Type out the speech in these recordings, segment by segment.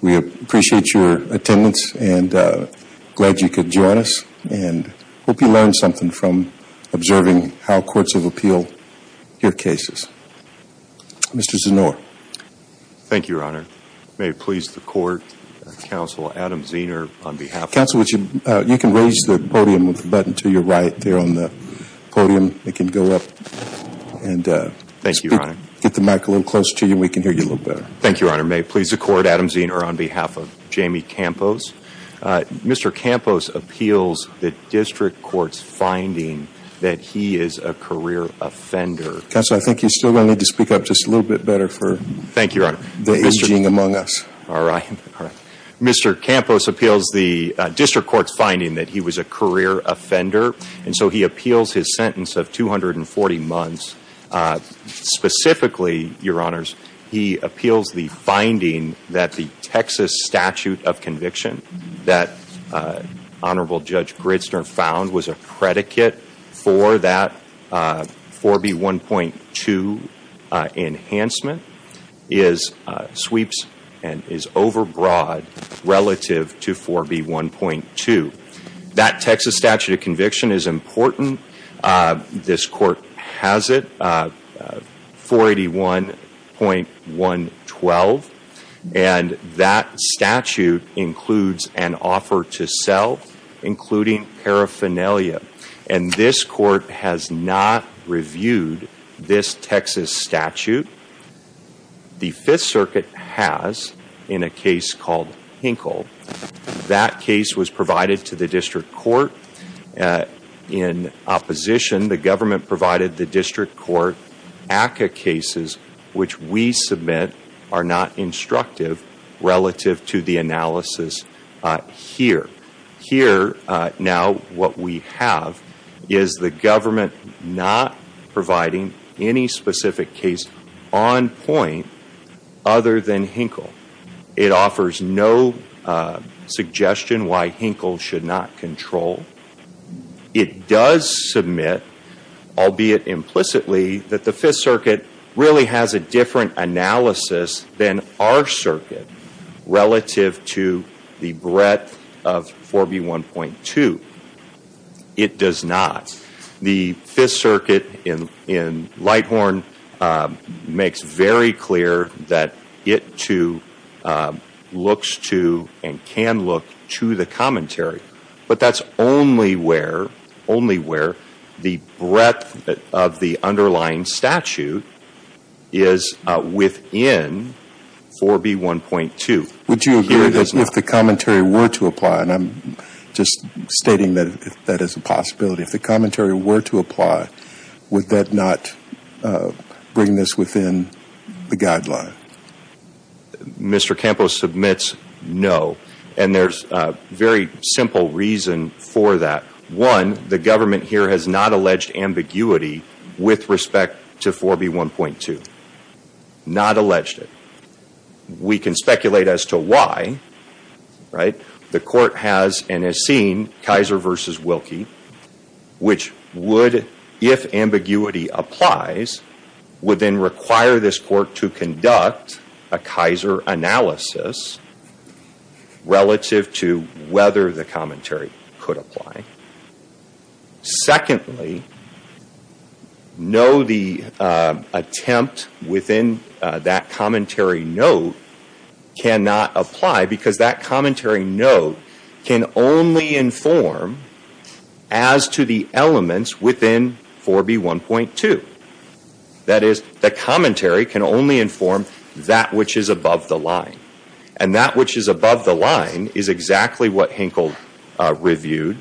We appreciate your attendance and glad you could join us and hope you learned something from observing how courts of appeal your cases. Mr. Zanore. Thank you, your honor. May it please the court, counsel Adam Zener on behalf of the court. You can raise the podium with the button to your right there on the podium. It can go up and get the mic a little closer to you and we can hear you a little better. Thank you, your honor. May it please the court, Adam Zener on behalf of Jaime Campos. Mr. Campos appeals the district court's finding that he is a career offender. Counsel, I think you still need to speak up just a little bit better for the aging among us. All right. Mr. Campos appeals the district court's finding that he was a career offender and so he appeals his sentence of 240 months. Specifically, your honors, he appeals the finding that the Texas statute of conviction that Honorable Judge Gritzner found was a predicate for that 4B1.2 enhancement is sweeps and is overbroad relative to 4B1.2. That Texas statute of conviction is important. This court has it, 481.112, and that statute includes an offer to sell, including paraphernalia, and this court has not reviewed this Texas statute. The Fifth Circuit has in a case called Hinkle. That case was provided to the district court in opposition. The government provided the district court ACCA cases, which we submit are not instructive relative to the analysis here. Here, now, what we have is the government not providing any specific case on point other than Hinkle. It offers no suggestion why Hinkle should not control. It does submit, albeit implicitly, that the Fifth Circuit really has a different analysis than our circuit relative to the breadth of 4B1.2. It does not. The Fifth Circuit in Lighthorn makes very clear that it too looks to and can look to the commentary, but that is only where the breadth of the underlying statute is within 4B1.2. Would you agree that if the commentary were to apply, and I am just stating that as a possibility, if the commentary were to apply, would that not bring this within the guideline? Mr. Campos submits no, and there is a very simple reason for that. One, the government here has not alleged ambiguity with respect to 4B1.2. Not alleged it. We can speculate as to why. The court has and has seen Kaiser v. Wilkie, which would, if ambiguity applies, would then require this court to conduct a Kaiser analysis relative to whether the commentary could apply. Secondly, no, the attempt within that commentary note cannot apply because that commentary note can only inform as to the elements within 4B1.2. That is, the commentary can only inform that which is above the line, and that which is above the line is exactly what Hinkle reviewed,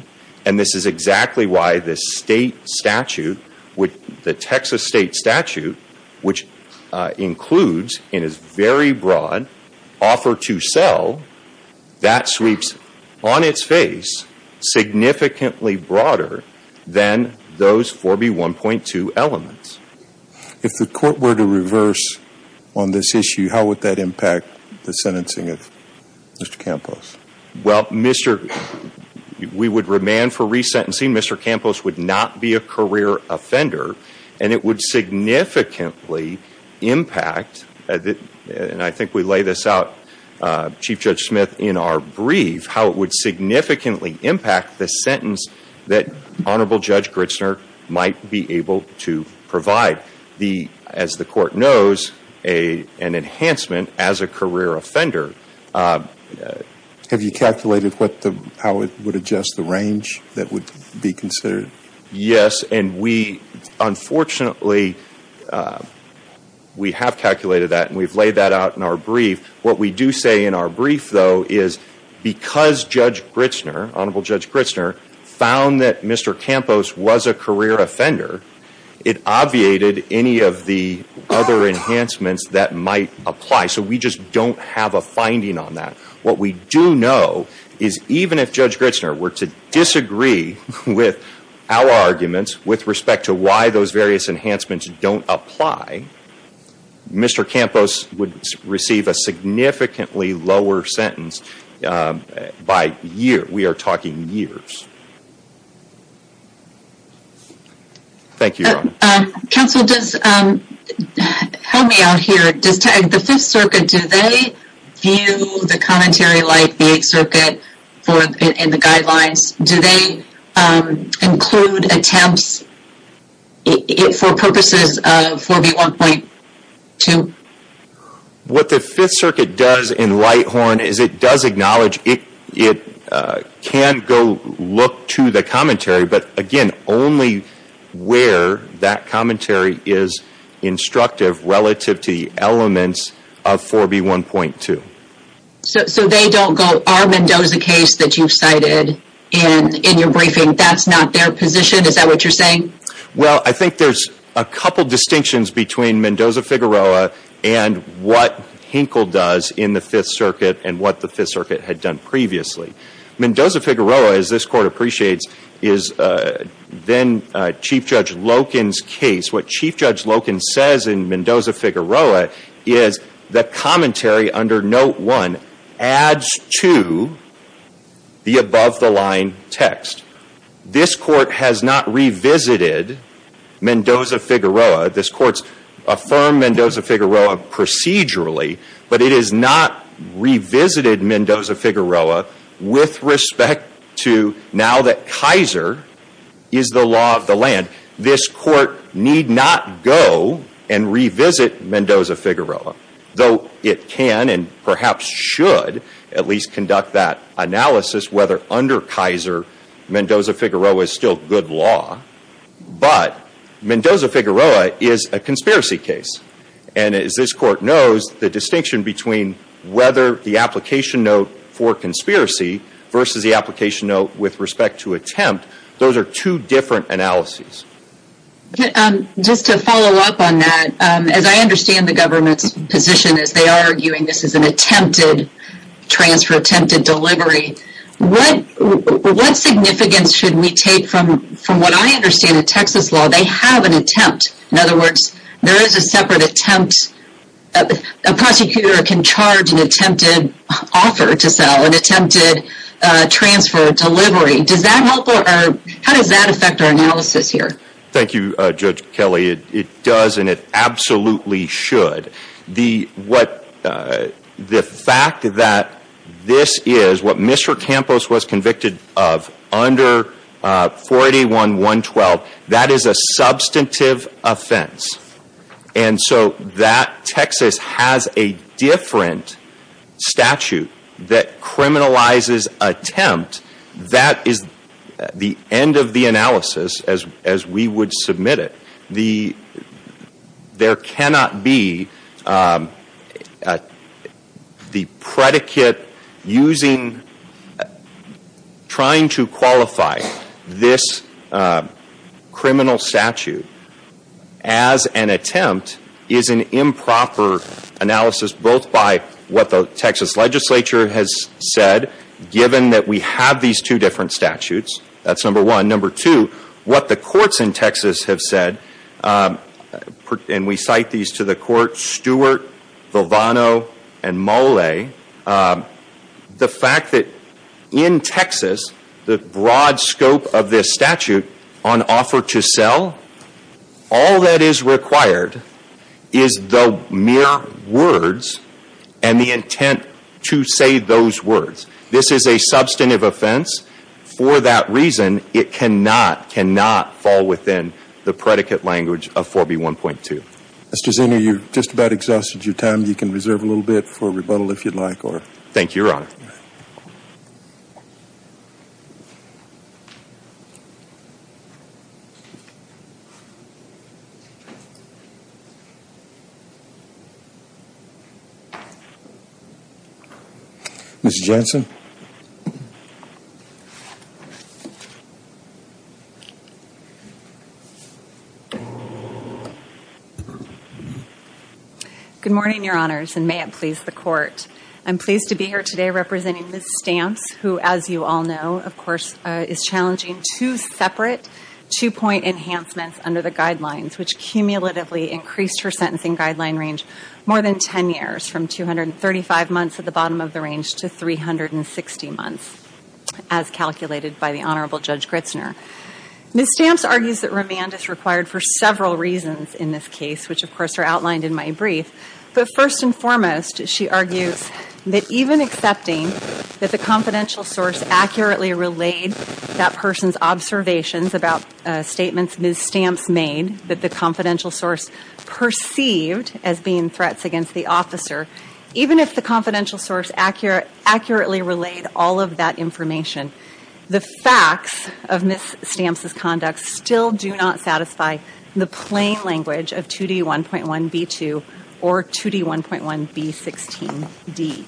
and this is exactly why the state statute, the Texas state statute, which includes and is very broad, offer to sell, that sweeps on its face significantly broader than those 4B1.2 elements. If the court were to reverse on this issue, how would that impact the sentencing of Mr. Campos? Well, we would remand for resentencing. Mr. Campos would not be a career offender, and it would significantly impact, and I think we lay this out, Chief Judge Smith, in our brief, how it would significantly impact the sentence that Honorable Judge Gritzner might be able to provide. As the court knows, an enhancement as a career offender. Have you calculated how it would adjust the range that would be considered? Yes, and we, unfortunately, we have calculated that and we've laid that out in our brief. What we do say in our brief, though, is because Judge Gritzner, Honorable Judge Gritzner, found that Mr. Campos was a career offender, it obviated any of the other enhancements that might apply, so we just don't have a finding on that. What we do know is even if our arguments with respect to why those various enhancements don't apply, Mr. Campos would receive a significantly lower sentence by year. We are talking years. Thank you, Your Honor. Counsel, help me out here. The Fifth Circuit, do they view the commentary like the Eighth Circuit? Do they include attempts for purposes of 4B1.2? What the Fifth Circuit does in Lighthorn is it does acknowledge it can go look to the commentary, but again, only where that commentary is instructive relative to the elements of 4B1.2. So they don't go, our Mendoza case that you've cited in your briefing, that's not their position? Is that what you're saying? Well, I think there's a couple distinctions between Mendoza-Figueroa and what Hinkle does in the Fifth Circuit and what the Fifth Circuit had done previously. Mendoza-Figueroa, as this Court appreciates, is then Chief Judge Loken's case. What Chief Judge Loken says in Mendoza-Figueroa is the commentary under Note 1 adds to the above-the-line text. This Court has not revisited Mendoza-Figueroa. This Court's affirmed Mendoza-Figueroa procedurally, but it has not revisited Mendoza-Figueroa with respect to now that Kaiser is the law of the land. This Court need not go and revisit Mendoza-Figueroa, though it can and perhaps should at least conduct that analysis whether under Kaiser Mendoza-Figueroa is still good law, but Mendoza-Figueroa is a conspiracy case. And as this Court knows, the distinction between whether the application note for conspiracy versus the application note with respect to Mendoza-Figueroa is a matter for future analysis. Just to follow up on that, as I understand the government's position as they are arguing this is an attempted transfer, attempted delivery, what significance should we take from what I understand in Texas law? They have an attempt. In other words, there is a separate attempt. A prosecutor can charge an attempted offer to sell, an attempted transfer, delivery. How does that affect our analysis here? Thank you, Judge Kelley. It does and it absolutely should. The fact that this is what Mr. Campos was convicted of under 481.112, that is a substantive offense. And so that Texas has a different statute that criminalizes attempt, that is the end of the analysis as we would submit it. There cannot be the predicate using, trying to qualify this criminal statute as an attempt is an improper analysis, both by what the Texas legislature has said, given that we have these two different statutes. That's number one. Number two, what the courts in Texas have said, and we cite these to the court, Stewart, Vilvano, and Molle, the fact that in Texas the broad scope of this statute on offer to sell, all that is required is the mere words and the intent to say those words. This is a substantive offense. For that reason, it cannot, cannot fall within the predicate language of 4B1.2. Mr. Zinner, you've just about exhausted your time. You can reserve a little bit for rebuttal if you'd like. Thank you, Your Honor. Ms. Jensen. Good morning, Your Honors, and may it please the court. I'm pleased to be here today representing Ms. Stamps, who, as you all know, of course, is challenging two separate two-point enhancements under the guidelines, which cumulatively increased her sentencing guideline range more than ten years, from 235 months at the bottom of the range to 360 months, as calculated by the Honorable Judge Gritzner. Ms. Stamps argues that remand is required for several reasons in this case, which, of course, are outlined in my brief. But first and foremost, she argues that even accepting that the confidential source accurately relayed that person's observations about statements Ms. Stamps made, that the confidential source perceived as being threats against the officer, even if the confidential source accurately relayed all of that information, the facts of Ms. Stamps' conduct still do not satisfy the plain language of 2D1.1b2 or 2D1.1b16d.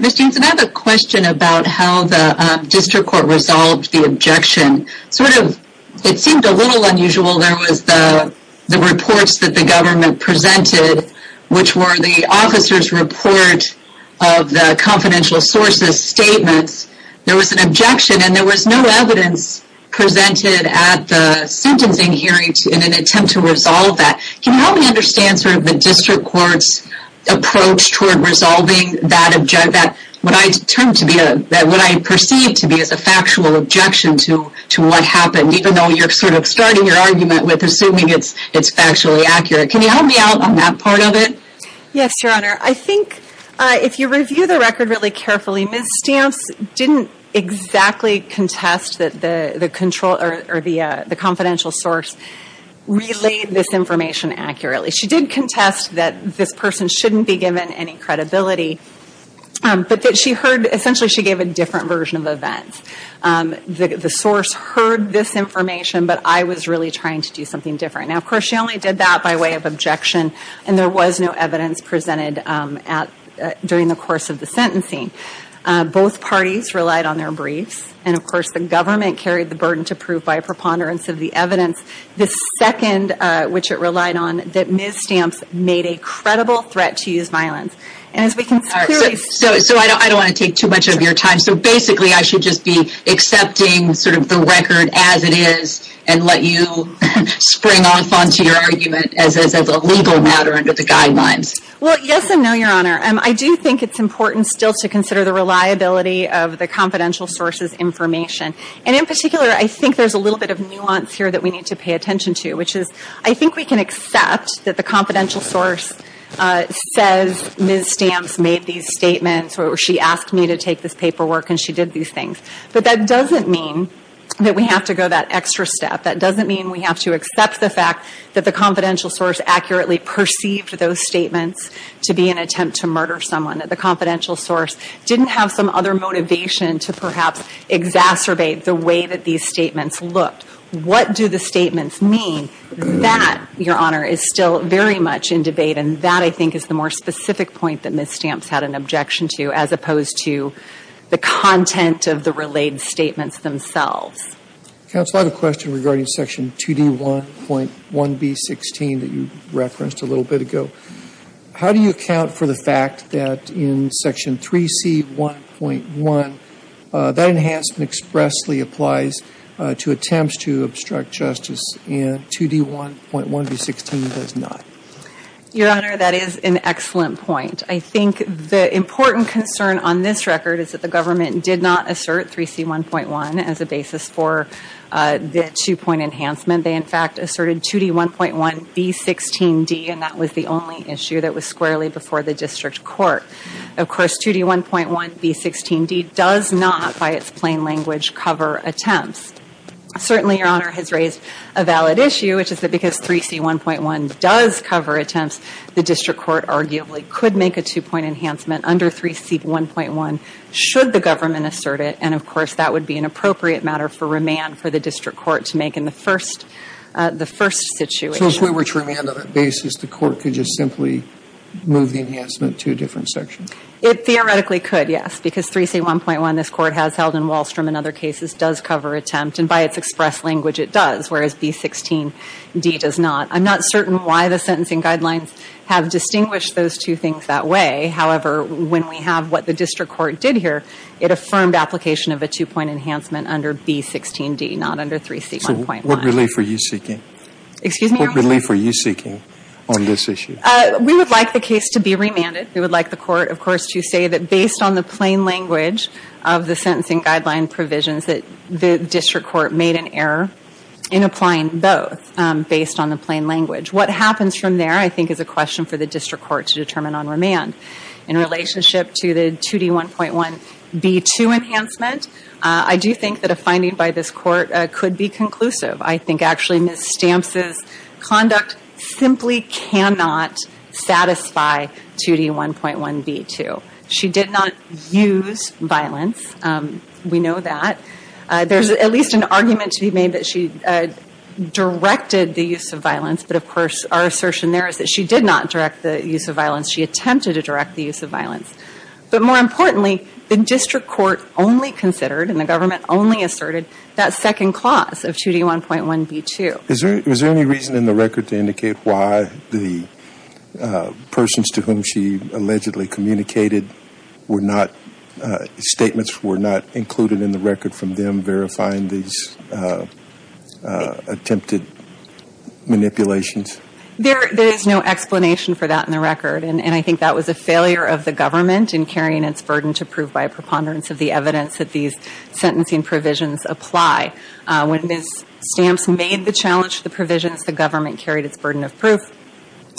Ms. Jensen, I have a question about how the district court resolved the objection. Sort of a little unusual, there was the reports that the government presented, which were the officer's report of the confidential source's statements. There was an objection, and there was no evidence presented at the sentencing hearing in an attempt to resolve that. Can you help me understand sort of the district court's approach toward resolving that objection? What I perceive to be a factual objection to what happened, even though you're sort of starting your argument with assuming it's factually accurate. Can you help me out on that part of it? Yes, Your Honor. I think if you review the record really carefully, Ms. Stamps didn't exactly contest that the confidential source relayed this information accurately. She did essentially she gave a different version of events. The source heard this information, but I was really trying to do something different. Now, of course, she only did that by way of objection, and there was no evidence presented during the course of the sentencing. Both parties relied on their briefs, and of course the government carried the burden to prove by preponderance of the evidence. The second, which it relied on, that Ms. Stamps made a So I don't want to take too much of your time. So basically I should just be accepting sort of the record as it is and let you spring off onto your argument as a legal matter under the guidelines. Well, yes and no, Your Honor. I do think it's important still to consider the reliability of the confidential source's information. And in particular, I think there's a little bit of nuance here that we need to pay attention to, which is I think we can accept that the paperwork and she did these things. But that doesn't mean that we have to go that extra step. That doesn't mean we have to accept the fact that the confidential source accurately perceived those statements to be an attempt to murder someone, that the confidential source didn't have some other motivation to perhaps exacerbate the way that these statements looked. What do the statements mean? That, Your Honor, is still very much in debate, and that I think is the more specific point that Ms. Stamps had an objection to as opposed to the content of the relayed statements themselves. Counsel, I have a question regarding Section 2D1.1B16 that you referenced a little bit ago. How do you account for the fact that in Section 3C1.1, that enhancement expressly applies to attempts to obstruct justice and 2D1.1B16 does not? Your Honor, that is an excellent point. I think the important concern on this record is that the government did not assert 3C1.1 as a basis for the two-point enhancement. They, in fact, asserted 2D1.1B16D, and that was the only issue that was squarely before the district court. Of course, 2D1.1B16D does not, by its plain language, cover attempts. Certainly, Your Honor, has raised a valid issue, which is that because 3C1.1 does cover attempts, the district court arguably could make a two-point enhancement under 3C1.1 should the government assert it, and, of course, that would be an appropriate matter for remand for the district court to make in the first situation. So if we were to remand on that basis, the court could just simply move the enhancement to a different section? It theoretically could, yes, because 3C1.1, this court has held in Wallstrom and other cases, does cover attempt, and by its express language it does, whereas B16D does not. I'm not certain why the sentencing guidelines have distinguished those two things that way. However, when we have what the district court did here, it affirmed application of a two-point enhancement under B16D, not under 3C1.1. So what relief are you seeking? Excuse me, Your Honor? What relief are you seeking on this issue? We would like the case to be remanded. We would like the court, of course, to say that based on the plain language of the sentencing guideline provisions that the district court made an error in applying both based on the plain language. What happens from there, I think, is a question for the district court to determine on remand. In relationship to the 2D1.1 B2 enhancement, I do think that a finding by this court could be conclusive. I think actually Ms. Stamps' conduct simply cannot satisfy 2D1.1 B2. She did not use violence. We know that. There's at least an argument to be made that she directed the use of violence, but of course our assertion there is that she did not direct the use of violence. She attempted to direct the use of violence. But more importantly, the district court only considered and the government only asserted that second clause of 2D1.1 B2. Is there any reason in the record to indicate why the persons to whom she allegedly communicated were not, statements were not included in the record from them verifying these attempted manipulations? There is no explanation for that in the record. And I think that was a failure of the government in carrying its burden to prove by a preponderance of the evidence that these sentencing provisions apply. When Ms. Stamps made the challenge to the provisions, the government carried its burden of proof.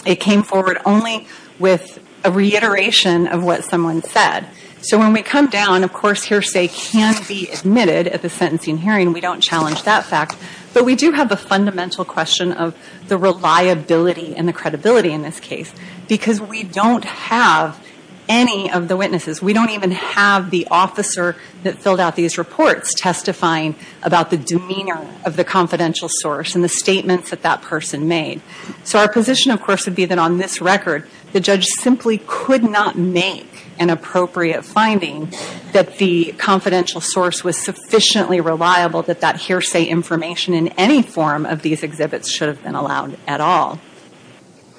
It came forward only with a reiteration of what someone said. So when we come down, of course hearsay can be admitted at the sentencing hearing. We don't challenge that fact. But we do have the fundamental question of the reliability and the credibility in this case. Because we don't have any of the witnesses. We don't even have the officer that filled out these reports testifying about the demeanor of the confidential source and the statements that that person made. So our position of course would be that on this record, the judge simply could not make an appropriate finding that the confidential source was sufficiently reliable that that hearsay information in any form of these exhibits should have been allowed at all.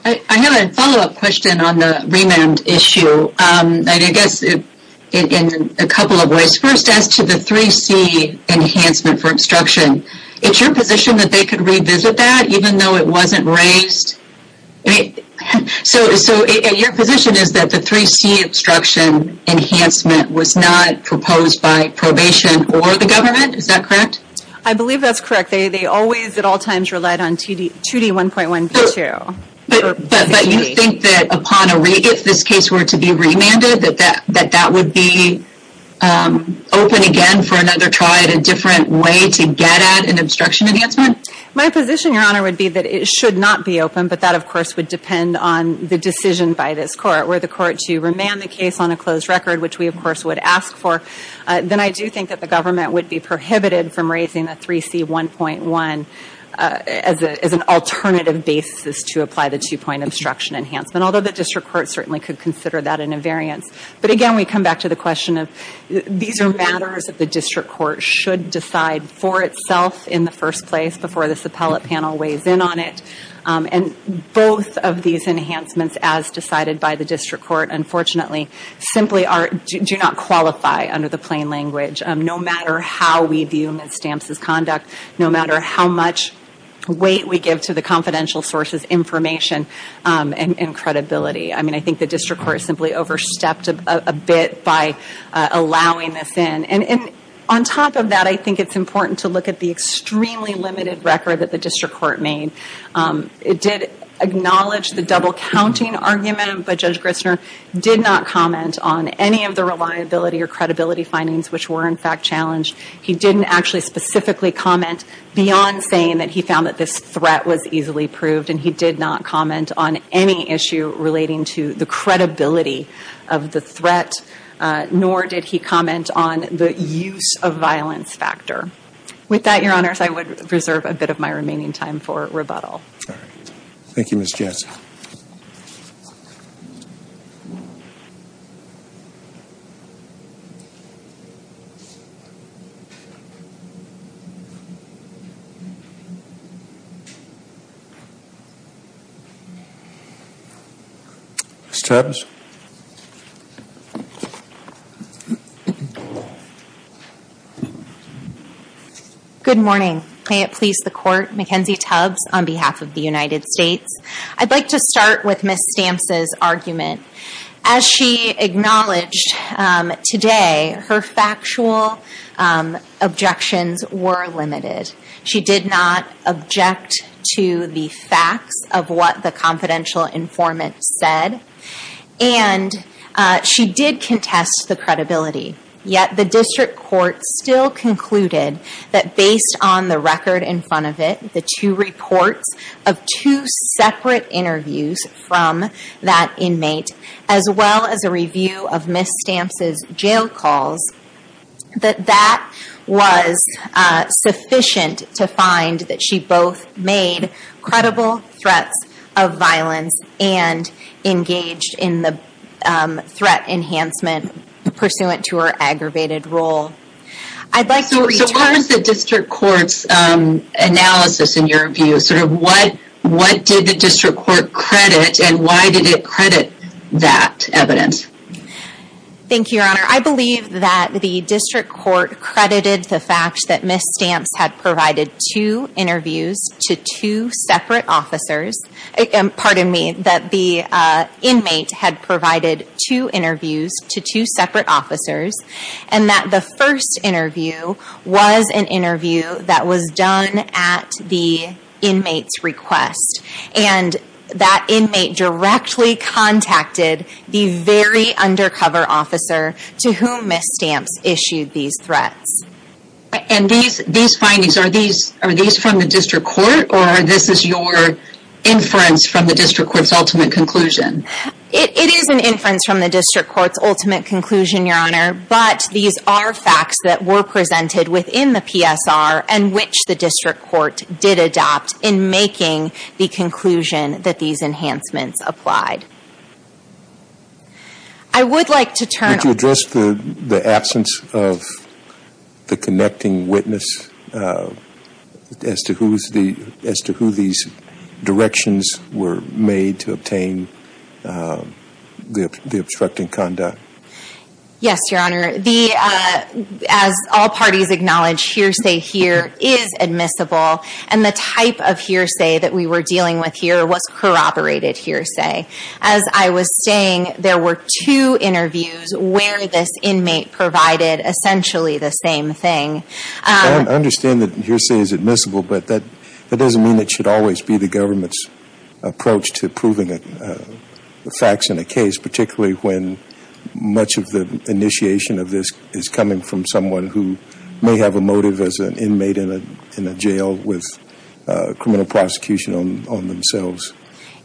I have a follow up question on the remand issue. And I guess in a couple of ways. First as to the 3C enhancement for obstruction. Is your position that they could revisit that even though it wasn't raised? So your position is that the 3C obstruction enhancement was not proposed by probation or the government? Is that correct? I believe that's correct. They always at all times relied on 2D1.1.2. But you think that if this case were to be remanded that that would be open again for another trial and a different way to get at an obstruction enhancement? My position, Your Honor, would be that it should not be open. But that of course would depend on the decision by this Court. Were the Court to remand the case on a closed record, which we of course would ask for, then I do think that the government would be prohibited from raising the 3C1.1 as an alternative basis to apply the two-point obstruction enhancement. Although the District Court certainly could consider that an invariance. But again, we come back to the question of these are matters that the District Court should decide for itself in the first place before this appellate panel weighs in on it. Both of these enhancements as decided by the District Court unfortunately simply do not qualify under the plain language. No matter how we view Ms. Stamps' conduct, no matter how much weight we give to the confidential source's information and credibility. I think the District Court simply overstepped a bit by allowing this in. And on top of that, I think it's important to look at the extremely limited record that the District Court made. It did acknowledge the double-counting argument, but Judge Grissner did not comment on any of the reliability or credibility findings which were in fact challenged. He didn't actually specifically comment beyond saying that he found that this threat was easily proved. And he did not comment on any issue relating to the credibility of the threat, nor did he comment on the use of violence factor. With that, Your Honors, I would reserve a bit of my remaining time for rebuttal. Thank you, Ms. Jansen. Ms. Tubbs? Good morning. May it please the Court, Mackenzie Tubbs on behalf of the United States. I'd like to start with Ms. Stamps' argument. As she acknowledged today, her factual objections were limited. She did not object to the facts of what the confidential informant said, and she did contest the credibility. Yet the District Court still concluded that based on the record in front of it, the two reports of two separate interviews from that inmate, as well as a review of Ms. Stamps' jail calls, that that was sufficient to find that she both made credible threats of violence and engaged in the threat enhancement pursuant to her aggravated role. I'd like to return... So what was the District Court's analysis in your view? Sort of what did the District Court credit, and why did it credit that evidence? Thank you, Your Honor. I believe that the District Court credited the fact that Ms. Stamps had provided two interviews to two separate officers. Pardon me, that the inmate had provided two interviews to two separate officers, and that the first interview was an interview that was done at the inmate's request. And that inmate directly contacted the very undercover officer to whom Ms. Stamps issued these threats. And these are facts that were presented within the PSR, and which the District Court did adopt in making the conclusion that these enhancements applied. I would like to turn... Would you address the absence of the connecting witness as to who's the connecting witness? As to who these directions were made to obtain the obstructing conduct? Yes, Your Honor. As all parties acknowledge, hearsay here is admissible, and the type of hearsay that we were dealing with here was corroborated hearsay. As I was saying, there were two interviews where this inmate provided essentially the same thing. I understand that that doesn't mean it should always be the government's approach to proving facts in a case, particularly when much of the initiation of this is coming from someone who may have a motive as an inmate in a jail with criminal prosecution on themselves.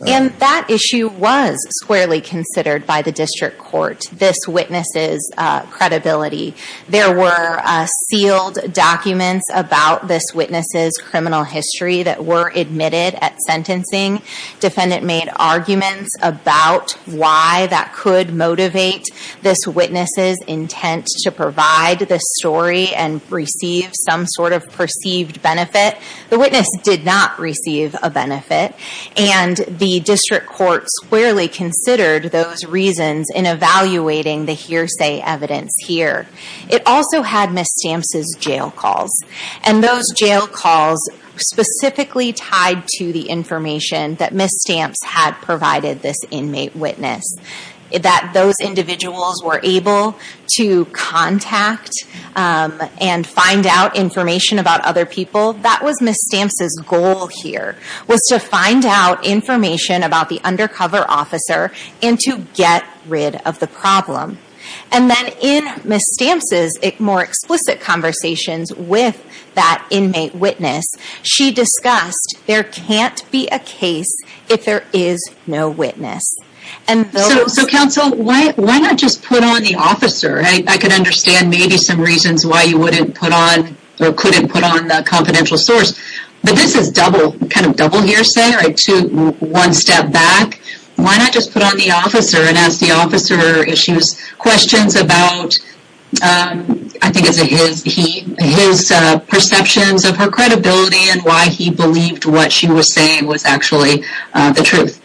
And that issue was squarely considered by the District Court, this witness's credibility. There were sealed documents about this witness's criminal history that were admitted at sentencing. Defendant made arguments about why that could motivate this witness's intent to provide this story and receive some sort of perceived benefit. The witness did not receive a benefit, and the District Court squarely considered those reasons in evaluating the hearsay evidence here. It also had Ms. Stamps's jail calls specifically tied to the information that Ms. Stamps had provided this inmate witness. Those individuals were able to contact and find out information about other people. That was Ms. Stamps's goal here, was to find out information about the undercover officer and to get rid of the problem. And then in Ms. Stamps's more explicit conversations with that inmate witness, she discussed there can't be a case if there is no witness. So counsel, why not just put on the officer? I can understand maybe some reasons why you wouldn't put on or couldn't put on the confidential source. But this is double hearsay, one step back. Why not just put on the officer and ask the officer questions about his perceptions of her credibility and why he believed what she was saying was actually the truth.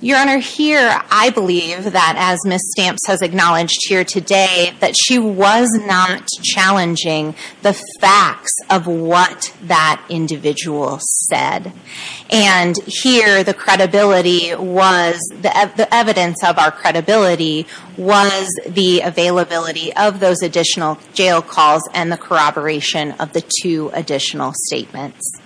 Your Honor, here I believe that as Ms. Stamps has acknowledged here today, that she was not challenging the facts of what that individual said. And here the credibility was, the evidence of our credibility was the availability of those additional jail calls and the corroboration of the two additional statements.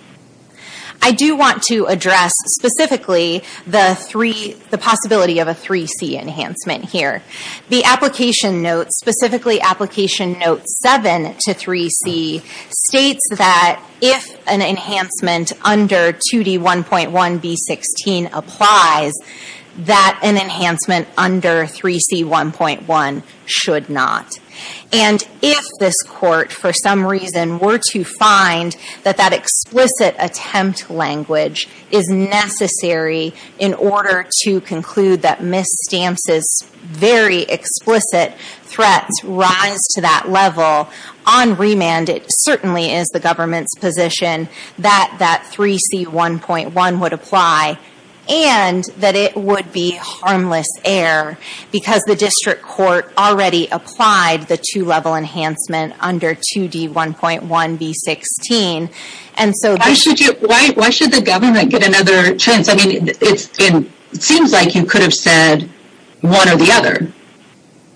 I do want to address specifically the possibility of a 3C enhancement here. The application notes, specifically application note 7 to 3C states that if an enhancement under 2D1.1B16 applies, that an enhancement under 3C1.1 should not. And if this Court for some reason were to find that that explicit attempt language is necessary in order to conclude that Ms. Stamps' very explicit threats rise to that level, on remand it certainly is the government's position that that 3C1.1 would apply and that it would be harmless error because the District Court already applied the two level enhancement under 2D1.1B16. Why should the government get another chance? It seems like you could have said one or the other.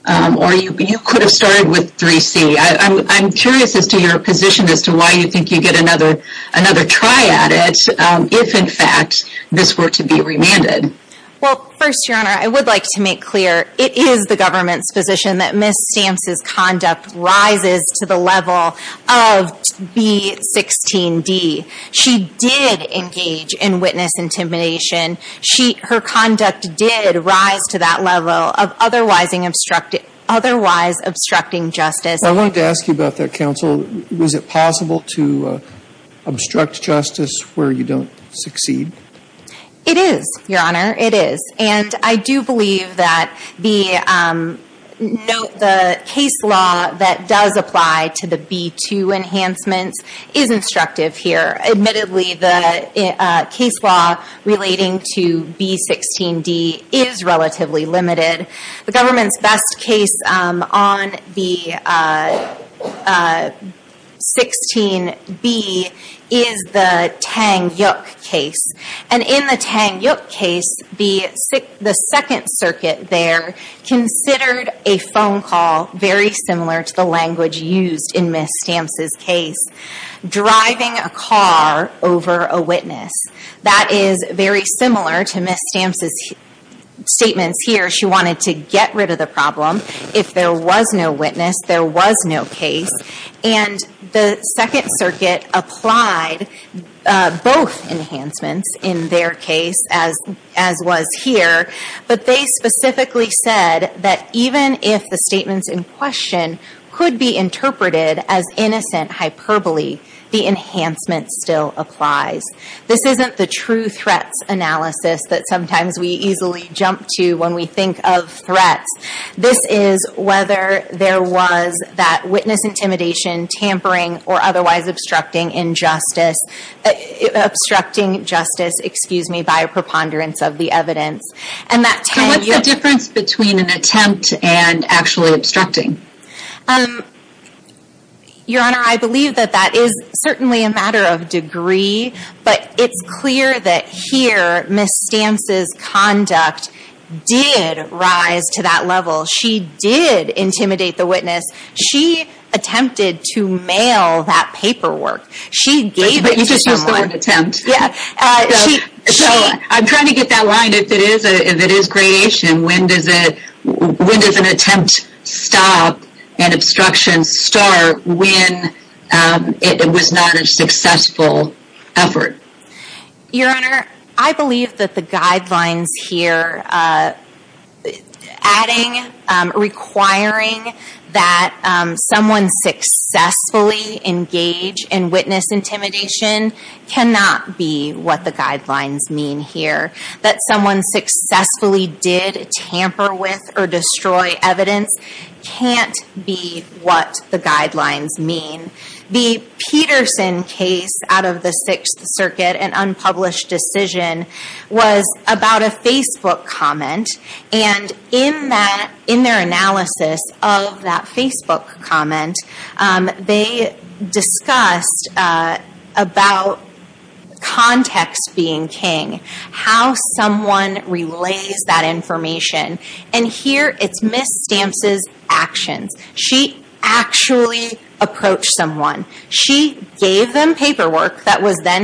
Or you could have started with 3C. I'm curious as to your position as to why you think you get another try at it if in fact this were to be remanded. First Your Honor, I would like to make clear it is the government's position that Ms. Stamps' conduct rises to the level of B16D. She did engage in witness intimidation. Her conduct did rise to that level of otherwise obstructing justice. I wanted to ask you about that counsel. Was it possible to not succeed? It is, Your Honor, it is. I do believe that the case law that does apply to the B2 enhancements is instructive here. Admittedly the case law relating to B16D is relatively limited. The government's best case on the 16B is the Tang Yuk case. In the Tang Yuk case, the second circuit there considered a phone call very similar to the language used in Ms. Stamps' case. Driving a car over a witness. That is very similar to Ms. Stamps' statements here. She wanted to get rid of the problem. If there was no witness, there was no case. The second circuit applied both enhancements in their case as was here. They specifically said that even if the statements in question could be interpreted as innocent hyperbole, the enhancement still applies. This isn't the true threats analysis that sometimes we easily jump to when we think of threats. This is whether there was that witness intimidation, tampering, or otherwise obstructing justice by a preponderance of the evidence. What's the difference between an attempt and actually obstructing? Your Honor, I believe that that is certainly a matter of degree, but it's clear that here Ms. Stamps' conduct did rise to that to intimidate the witness. She attempted to mail that paperwork. She gave it to someone. I'm trying to get that line. If it is creation, when does an attempt stop and obstruction start when it was not a successful effort? Your Honor, I believe that the guidelines here adding, requiring that someone successfully engage in witness intimidation cannot be what the guidelines mean here. That someone successfully did tamper with or destroy evidence can't be what the guidelines mean. The Peterson case out of the Sixth Circuit, an unpublished decision, was about a Facebook comment. In their analysis of that Facebook comment, they discussed about context being king. How someone relays that information. Here, it's Ms. Stamps' actions. She actually approached someone. She gave them paperwork that was then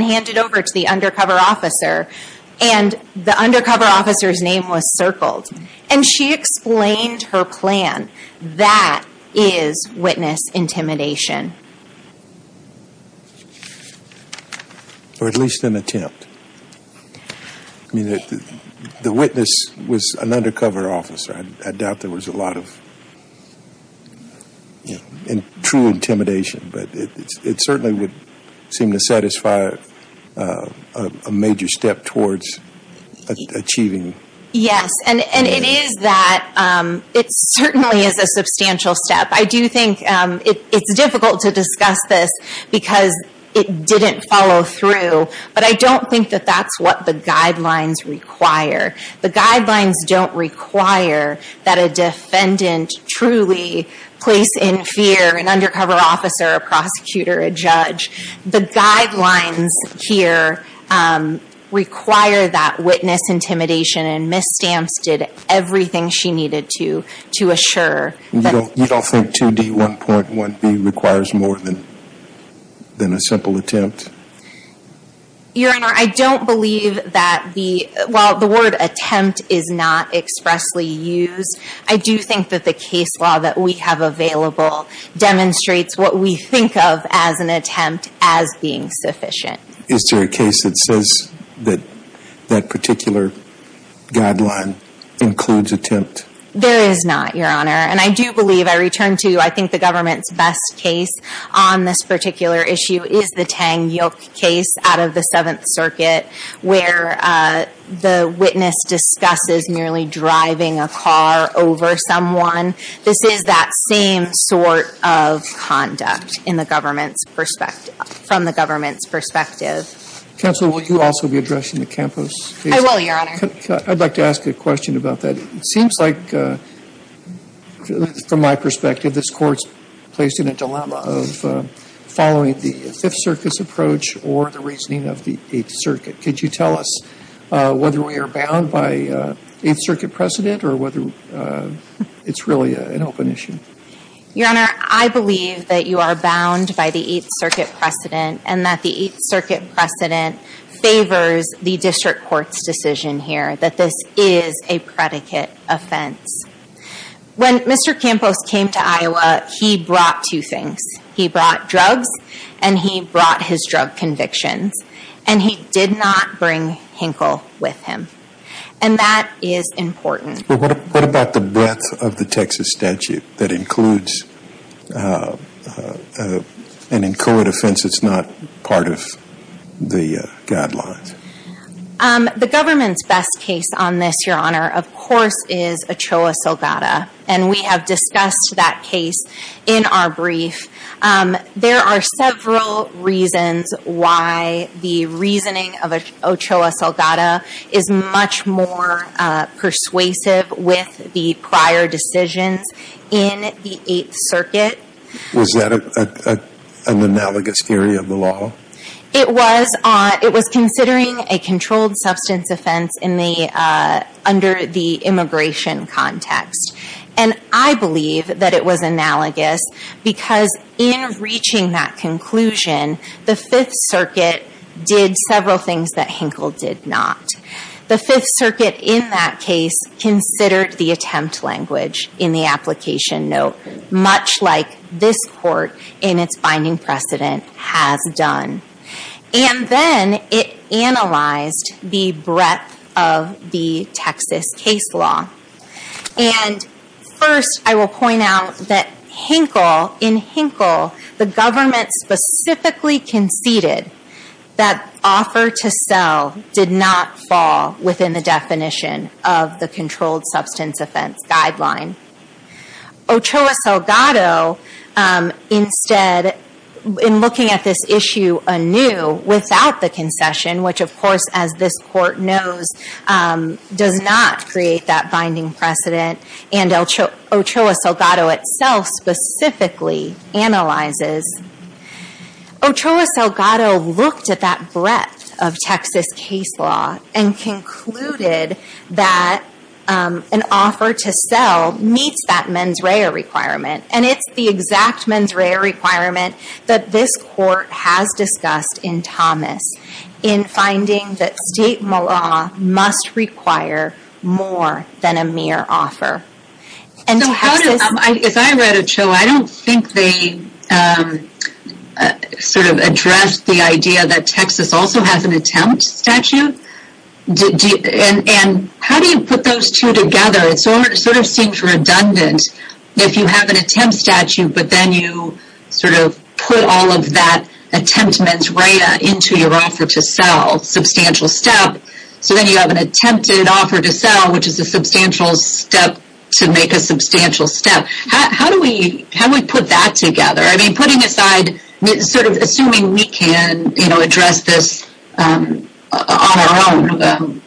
and the undercover officer's name was circled. She explained her plan. That is witness intimidation. Or at least an attempt. The witness was an undercover officer. I doubt there was a lot of true intimidation, but it certainly would seem to satisfy a major step towards achieving Yes, and it is that. It certainly is a substantial step. I do think it's difficult to discuss this because it didn't follow through, but I don't think that that's what the guidelines require. The guidelines don't require that a defendant truly place in fear an undercover officer, a prosecutor, a judge. The guidelines here require that witness intimidation and Ms. Stamps did everything she needed to assure. You don't think 2D 1.1B requires more than a simple attempt? Your Honor, I don't believe that the word attempt is not expressly used. I do think that the case law that we have available demonstrates what we think of as an attempt as being sufficient. Is there a case that says that that particular guideline includes attempt? There is not, Your Honor. And I do believe, I return to, I think the government's best case on this particular issue is the Tang Yook case out of the 7th Circuit where the witness discusses nearly driving a car over someone. This is that same sort of conduct in the government's perspective, from the government's perspective. Counsel, will you also be addressing the Campos case? I will, Your Honor. I'd like to ask a question about that. It seems like from my perspective, this Court's placed in a dilemma of following the 5th Circuit's approach or the reasoning of the 8th Circuit. Could you tell us whether we are bound by 8th Circuit precedent or whether it's really an open issue? Your Honor, I believe that you are bound by the 8th Circuit precedent and that the 8th Circuit precedent favors the District Court's decision here that this is a predicate offense. When Mr. Campos came to Iowa, he brought two things. He brought drugs and he brought his drug convictions. And he did not bring Hinkle with him. And that is important. What about the breadth of the Texas statute that includes an inchoate offense that's not part of the guidelines? The government's best case on this, Your Honor, of course is Ochoa Salgada. And we have discussed that case in our brief. There are several reasons why the reasoning of Ochoa Salgada is much more persuasive with the prior decisions in the 8th Circuit. Was that an analogous theory of the law? It was considering a controlled substance offense under the immigration context. And I believe that it was analogous because in reaching that conclusion, the 5th Circuit did several things that Hinkle did not. The 5th Circuit in that case considered the attempt language in the application note, much like this Court in its binding precedent has done. And then it analyzed the breadth of the Texas case law. And first, I will point out that in Hinkle the government specifically conceded that offer to sell did not fall within the definition of the controlled substance offense guideline. Ochoa Salgada instead in looking at this issue anew without the concession, which of course as this Court knows does not create that binding precedent, and Ochoa Salgada itself specifically analyzes Ochoa Salgada looked at that breadth of Texas case law and concluded that an offer to sell meets that mens rea requirement. And it's the exact mens rea requirement that this Court has discussed in Thomas in finding that state law must require more than a mere offer. And Texas... sort of addressed the idea that Texas also has an attempt statute. And how do you put those two together? It sort of seems redundant if you have an attempt statute, but then you sort of put all of that attempt mens rea into your offer to sell. Substantial step. So then you have an attempted offer to sell, which is a substantial step to make a substantial step. How do we put that together? Putting aside, sort of assuming we can address this on our own.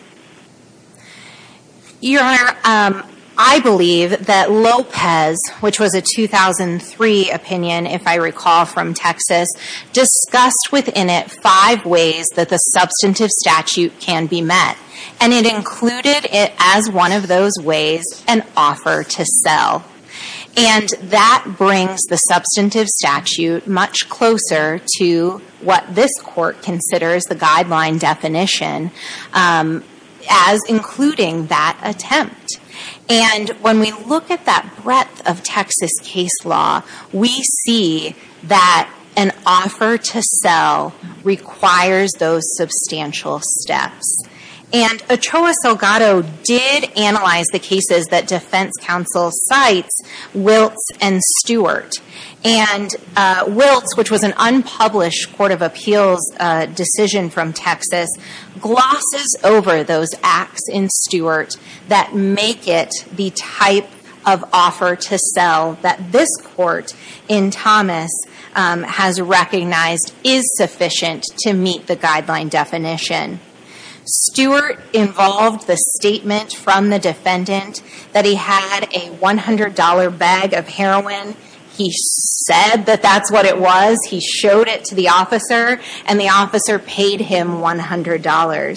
Your Honor, I believe that Lopez, which was a 2003 opinion if I recall from Texas, discussed within it five ways that the substantive statute can be met. And it included it as one of those ways, an offer to sell. And that brings the substantive statute much closer to what this Court considers the guideline definition as including that attempt. And when we look at that breadth of Texas case law, we see that an offer to sell requires those substantial steps. And Ochoa Salgado did analyze the cases that defense counsel cites, Wiltz and Stewart. And Wiltz, which was an unpublished Court of Appeals decision from Texas, glosses over those acts in Stewart that make it the type of offer to sell that this Court in Thomas has recognized is sufficient to meet the guideline definition. Stewart involved the that he had a $100 bag of heroin. He said that that's what it was. He showed it to the officer. And the officer paid him $100.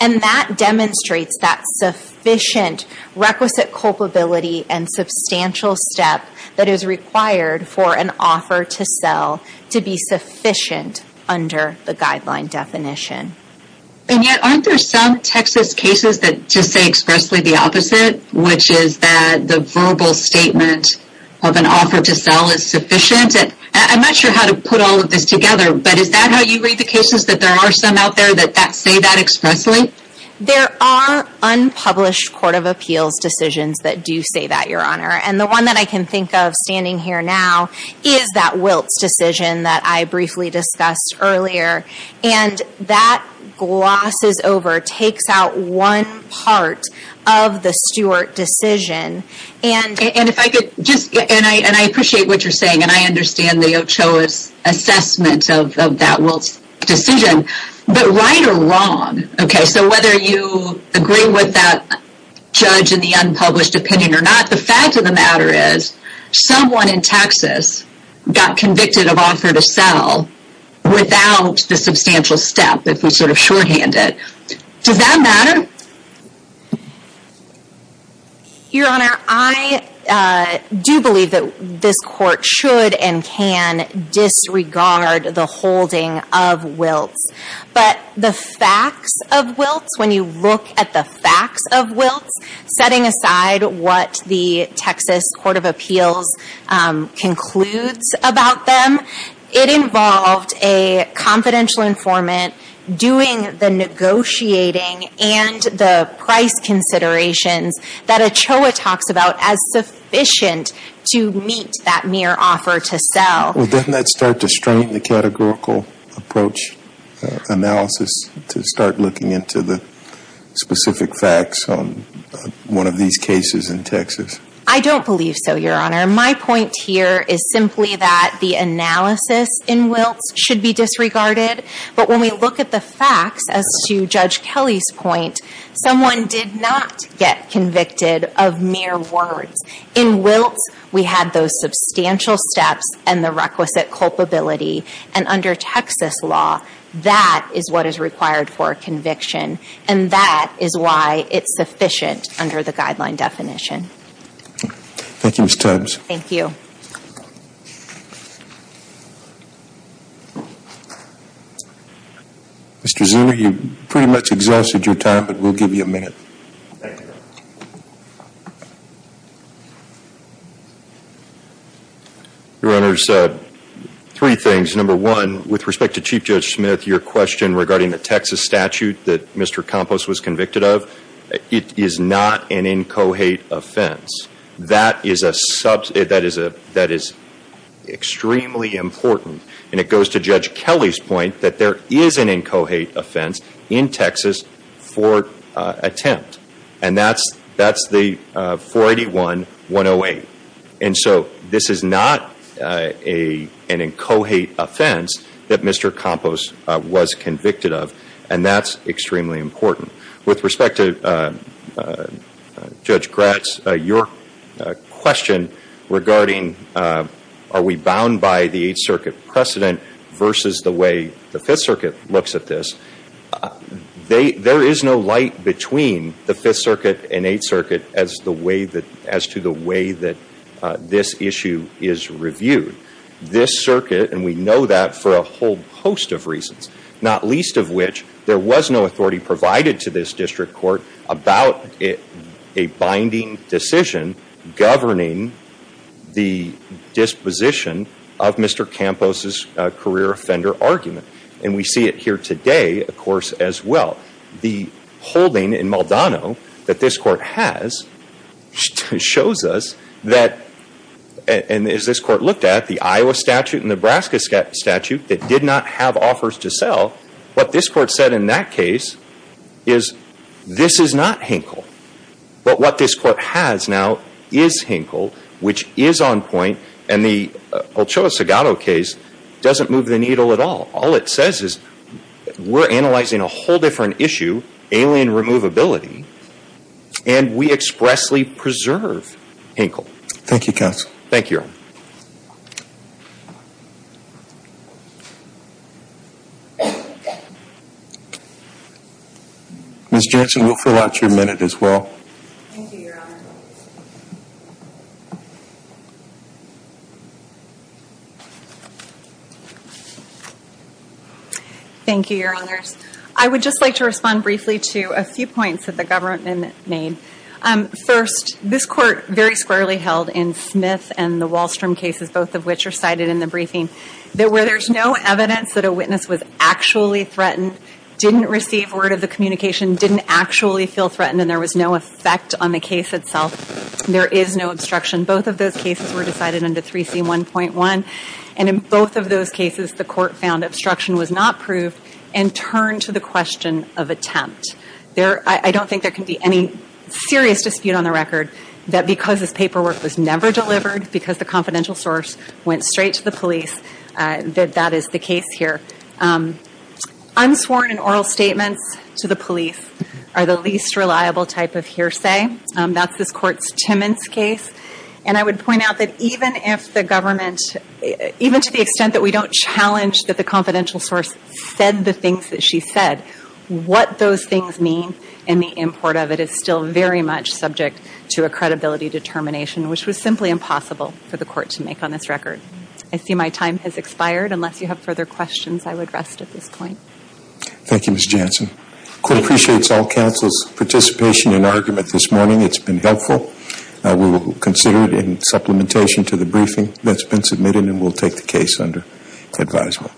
And that demonstrates that sufficient requisite culpability and substantial step that is required for an offer to sell to be sufficient under the guideline definition. And yet, aren't there some Texas cases that just say expressly the opposite, which is that the verbal statement of an offer to sell is sufficient? And I'm not sure how to put all of this together, but is that how you read the cases? That there are some out there that say that expressly? There are unpublished Court of Appeals decisions that do say that, Your Honor. And the one that I can think of standing here now is that Wiltz decision that I briefly discussed earlier. And that glosses takes out one part of the Stewart decision. And if I could just, and I appreciate what you're saying and I understand the Ochoa's assessment of that Wiltz decision. But right or wrong, okay, so whether you agree with that judge in the unpublished opinion or not, the fact of the matter is, someone in Texas got convicted of offer to sell without the substantial step that was sort of shorthanded. Does that matter? Your Honor, I do believe that this Court should and can disregard the holding of Wiltz. But the facts of Wiltz, when you look at the facts of Wiltz, setting aside what the Texas Court of Appeals concludes about them, it involved a doing the negotiating and the price considerations that Ochoa talks about as sufficient to meet that mere offer to sell. Well, doesn't that start to strain the categorical approach analysis to start looking into the specific facts on one of these cases in Texas? I don't believe so, Your Honor. My point here is simply that the analysis in Wiltz should be looking at the facts as to Judge Kelly's point. Someone did not get convicted of mere words. In Wiltz, we had those substantial steps and the requisite culpability. And under Texas law, that is what is required for a conviction. And that is why it's sufficient under the guideline definition. Thank you, Ms. Tubbs. Thank you. Mr. Zuner, you've pretty much exhausted your time, but we'll give you a minute. Thank you. Your Honor, three things. Number one, with respect to Chief Judge Smith, your question regarding the Texas statute that Mr. Campos was convicted of, it is not an incohate offense. That is a that is extremely important. And it goes to Judge Kelly's point that there is an incohate offense in Texas for attempt. And that's the 481-108. And so this is not an incohate offense that Mr. Campos was convicted of. And that's extremely important. With respect to Judge Gratz, your question regarding are we bound by the Eighth Circuit precedent versus the way the Fifth Circuit looks at this, there is no light between the Fifth Circuit and Eighth Circuit as to the way that this issue is reviewed. This circuit, and we know that for a whole host of reasons, not least of which there was no authority provided to this district court about a binding decision governing the disposition of Mr. Campos' career offender argument. And we see it here today, of course, as well. The holding in Maldonado that this court has shows us that, and as this court looked at, the Iowa statute and Nebraska statute that did not have offers to sell, what this court said in that case is this is not Hinkle. But what this court has now is Hinkle, which is on point. And the Ochoa-Segado case doesn't move the needle at all. All it says is we're analyzing a whole different issue, alien removability, and we expressly preserve Ms. Jansen, we'll fill out your minute as well. Thank you, Your Honor. Thank you, Your Honors. I would just like to respond briefly to a few points that the government made. First, this court very squarely held in Smith and the Wallstrom case cases, both of which are cited in the briefing, that where there's no evidence that a witness was actually threatened, didn't receive word of the communication, didn't actually feel threatened, and there was no effect on the case itself, there is no obstruction. Both of those cases were decided under 3C1.1. And in both of those cases, the court found obstruction was not proved and turned to the question of attempt. I don't think there can be any serious dispute on the record that because this paperwork was never delivered, because the confidential source went straight to the police, that that is the case here. Unsworn oral statements to the police are the least reliable type of hearsay. That's this court's Timmons case. And I would point out that even if the government, even to the extent that we don't challenge that the confidential source said the things that she said, what those things mean in the import of it is still very much subject to a credibility determination, which was simply impossible for the court to make on this record. I see my time has expired. Unless you have further questions, I would rest at this point. Thank you, Ms. Jansen. The court appreciates all counsel's participation and argument this morning. It's been helpful. We will consider it in supplementation to the briefing that's been submitted and we'll take the case under advisement.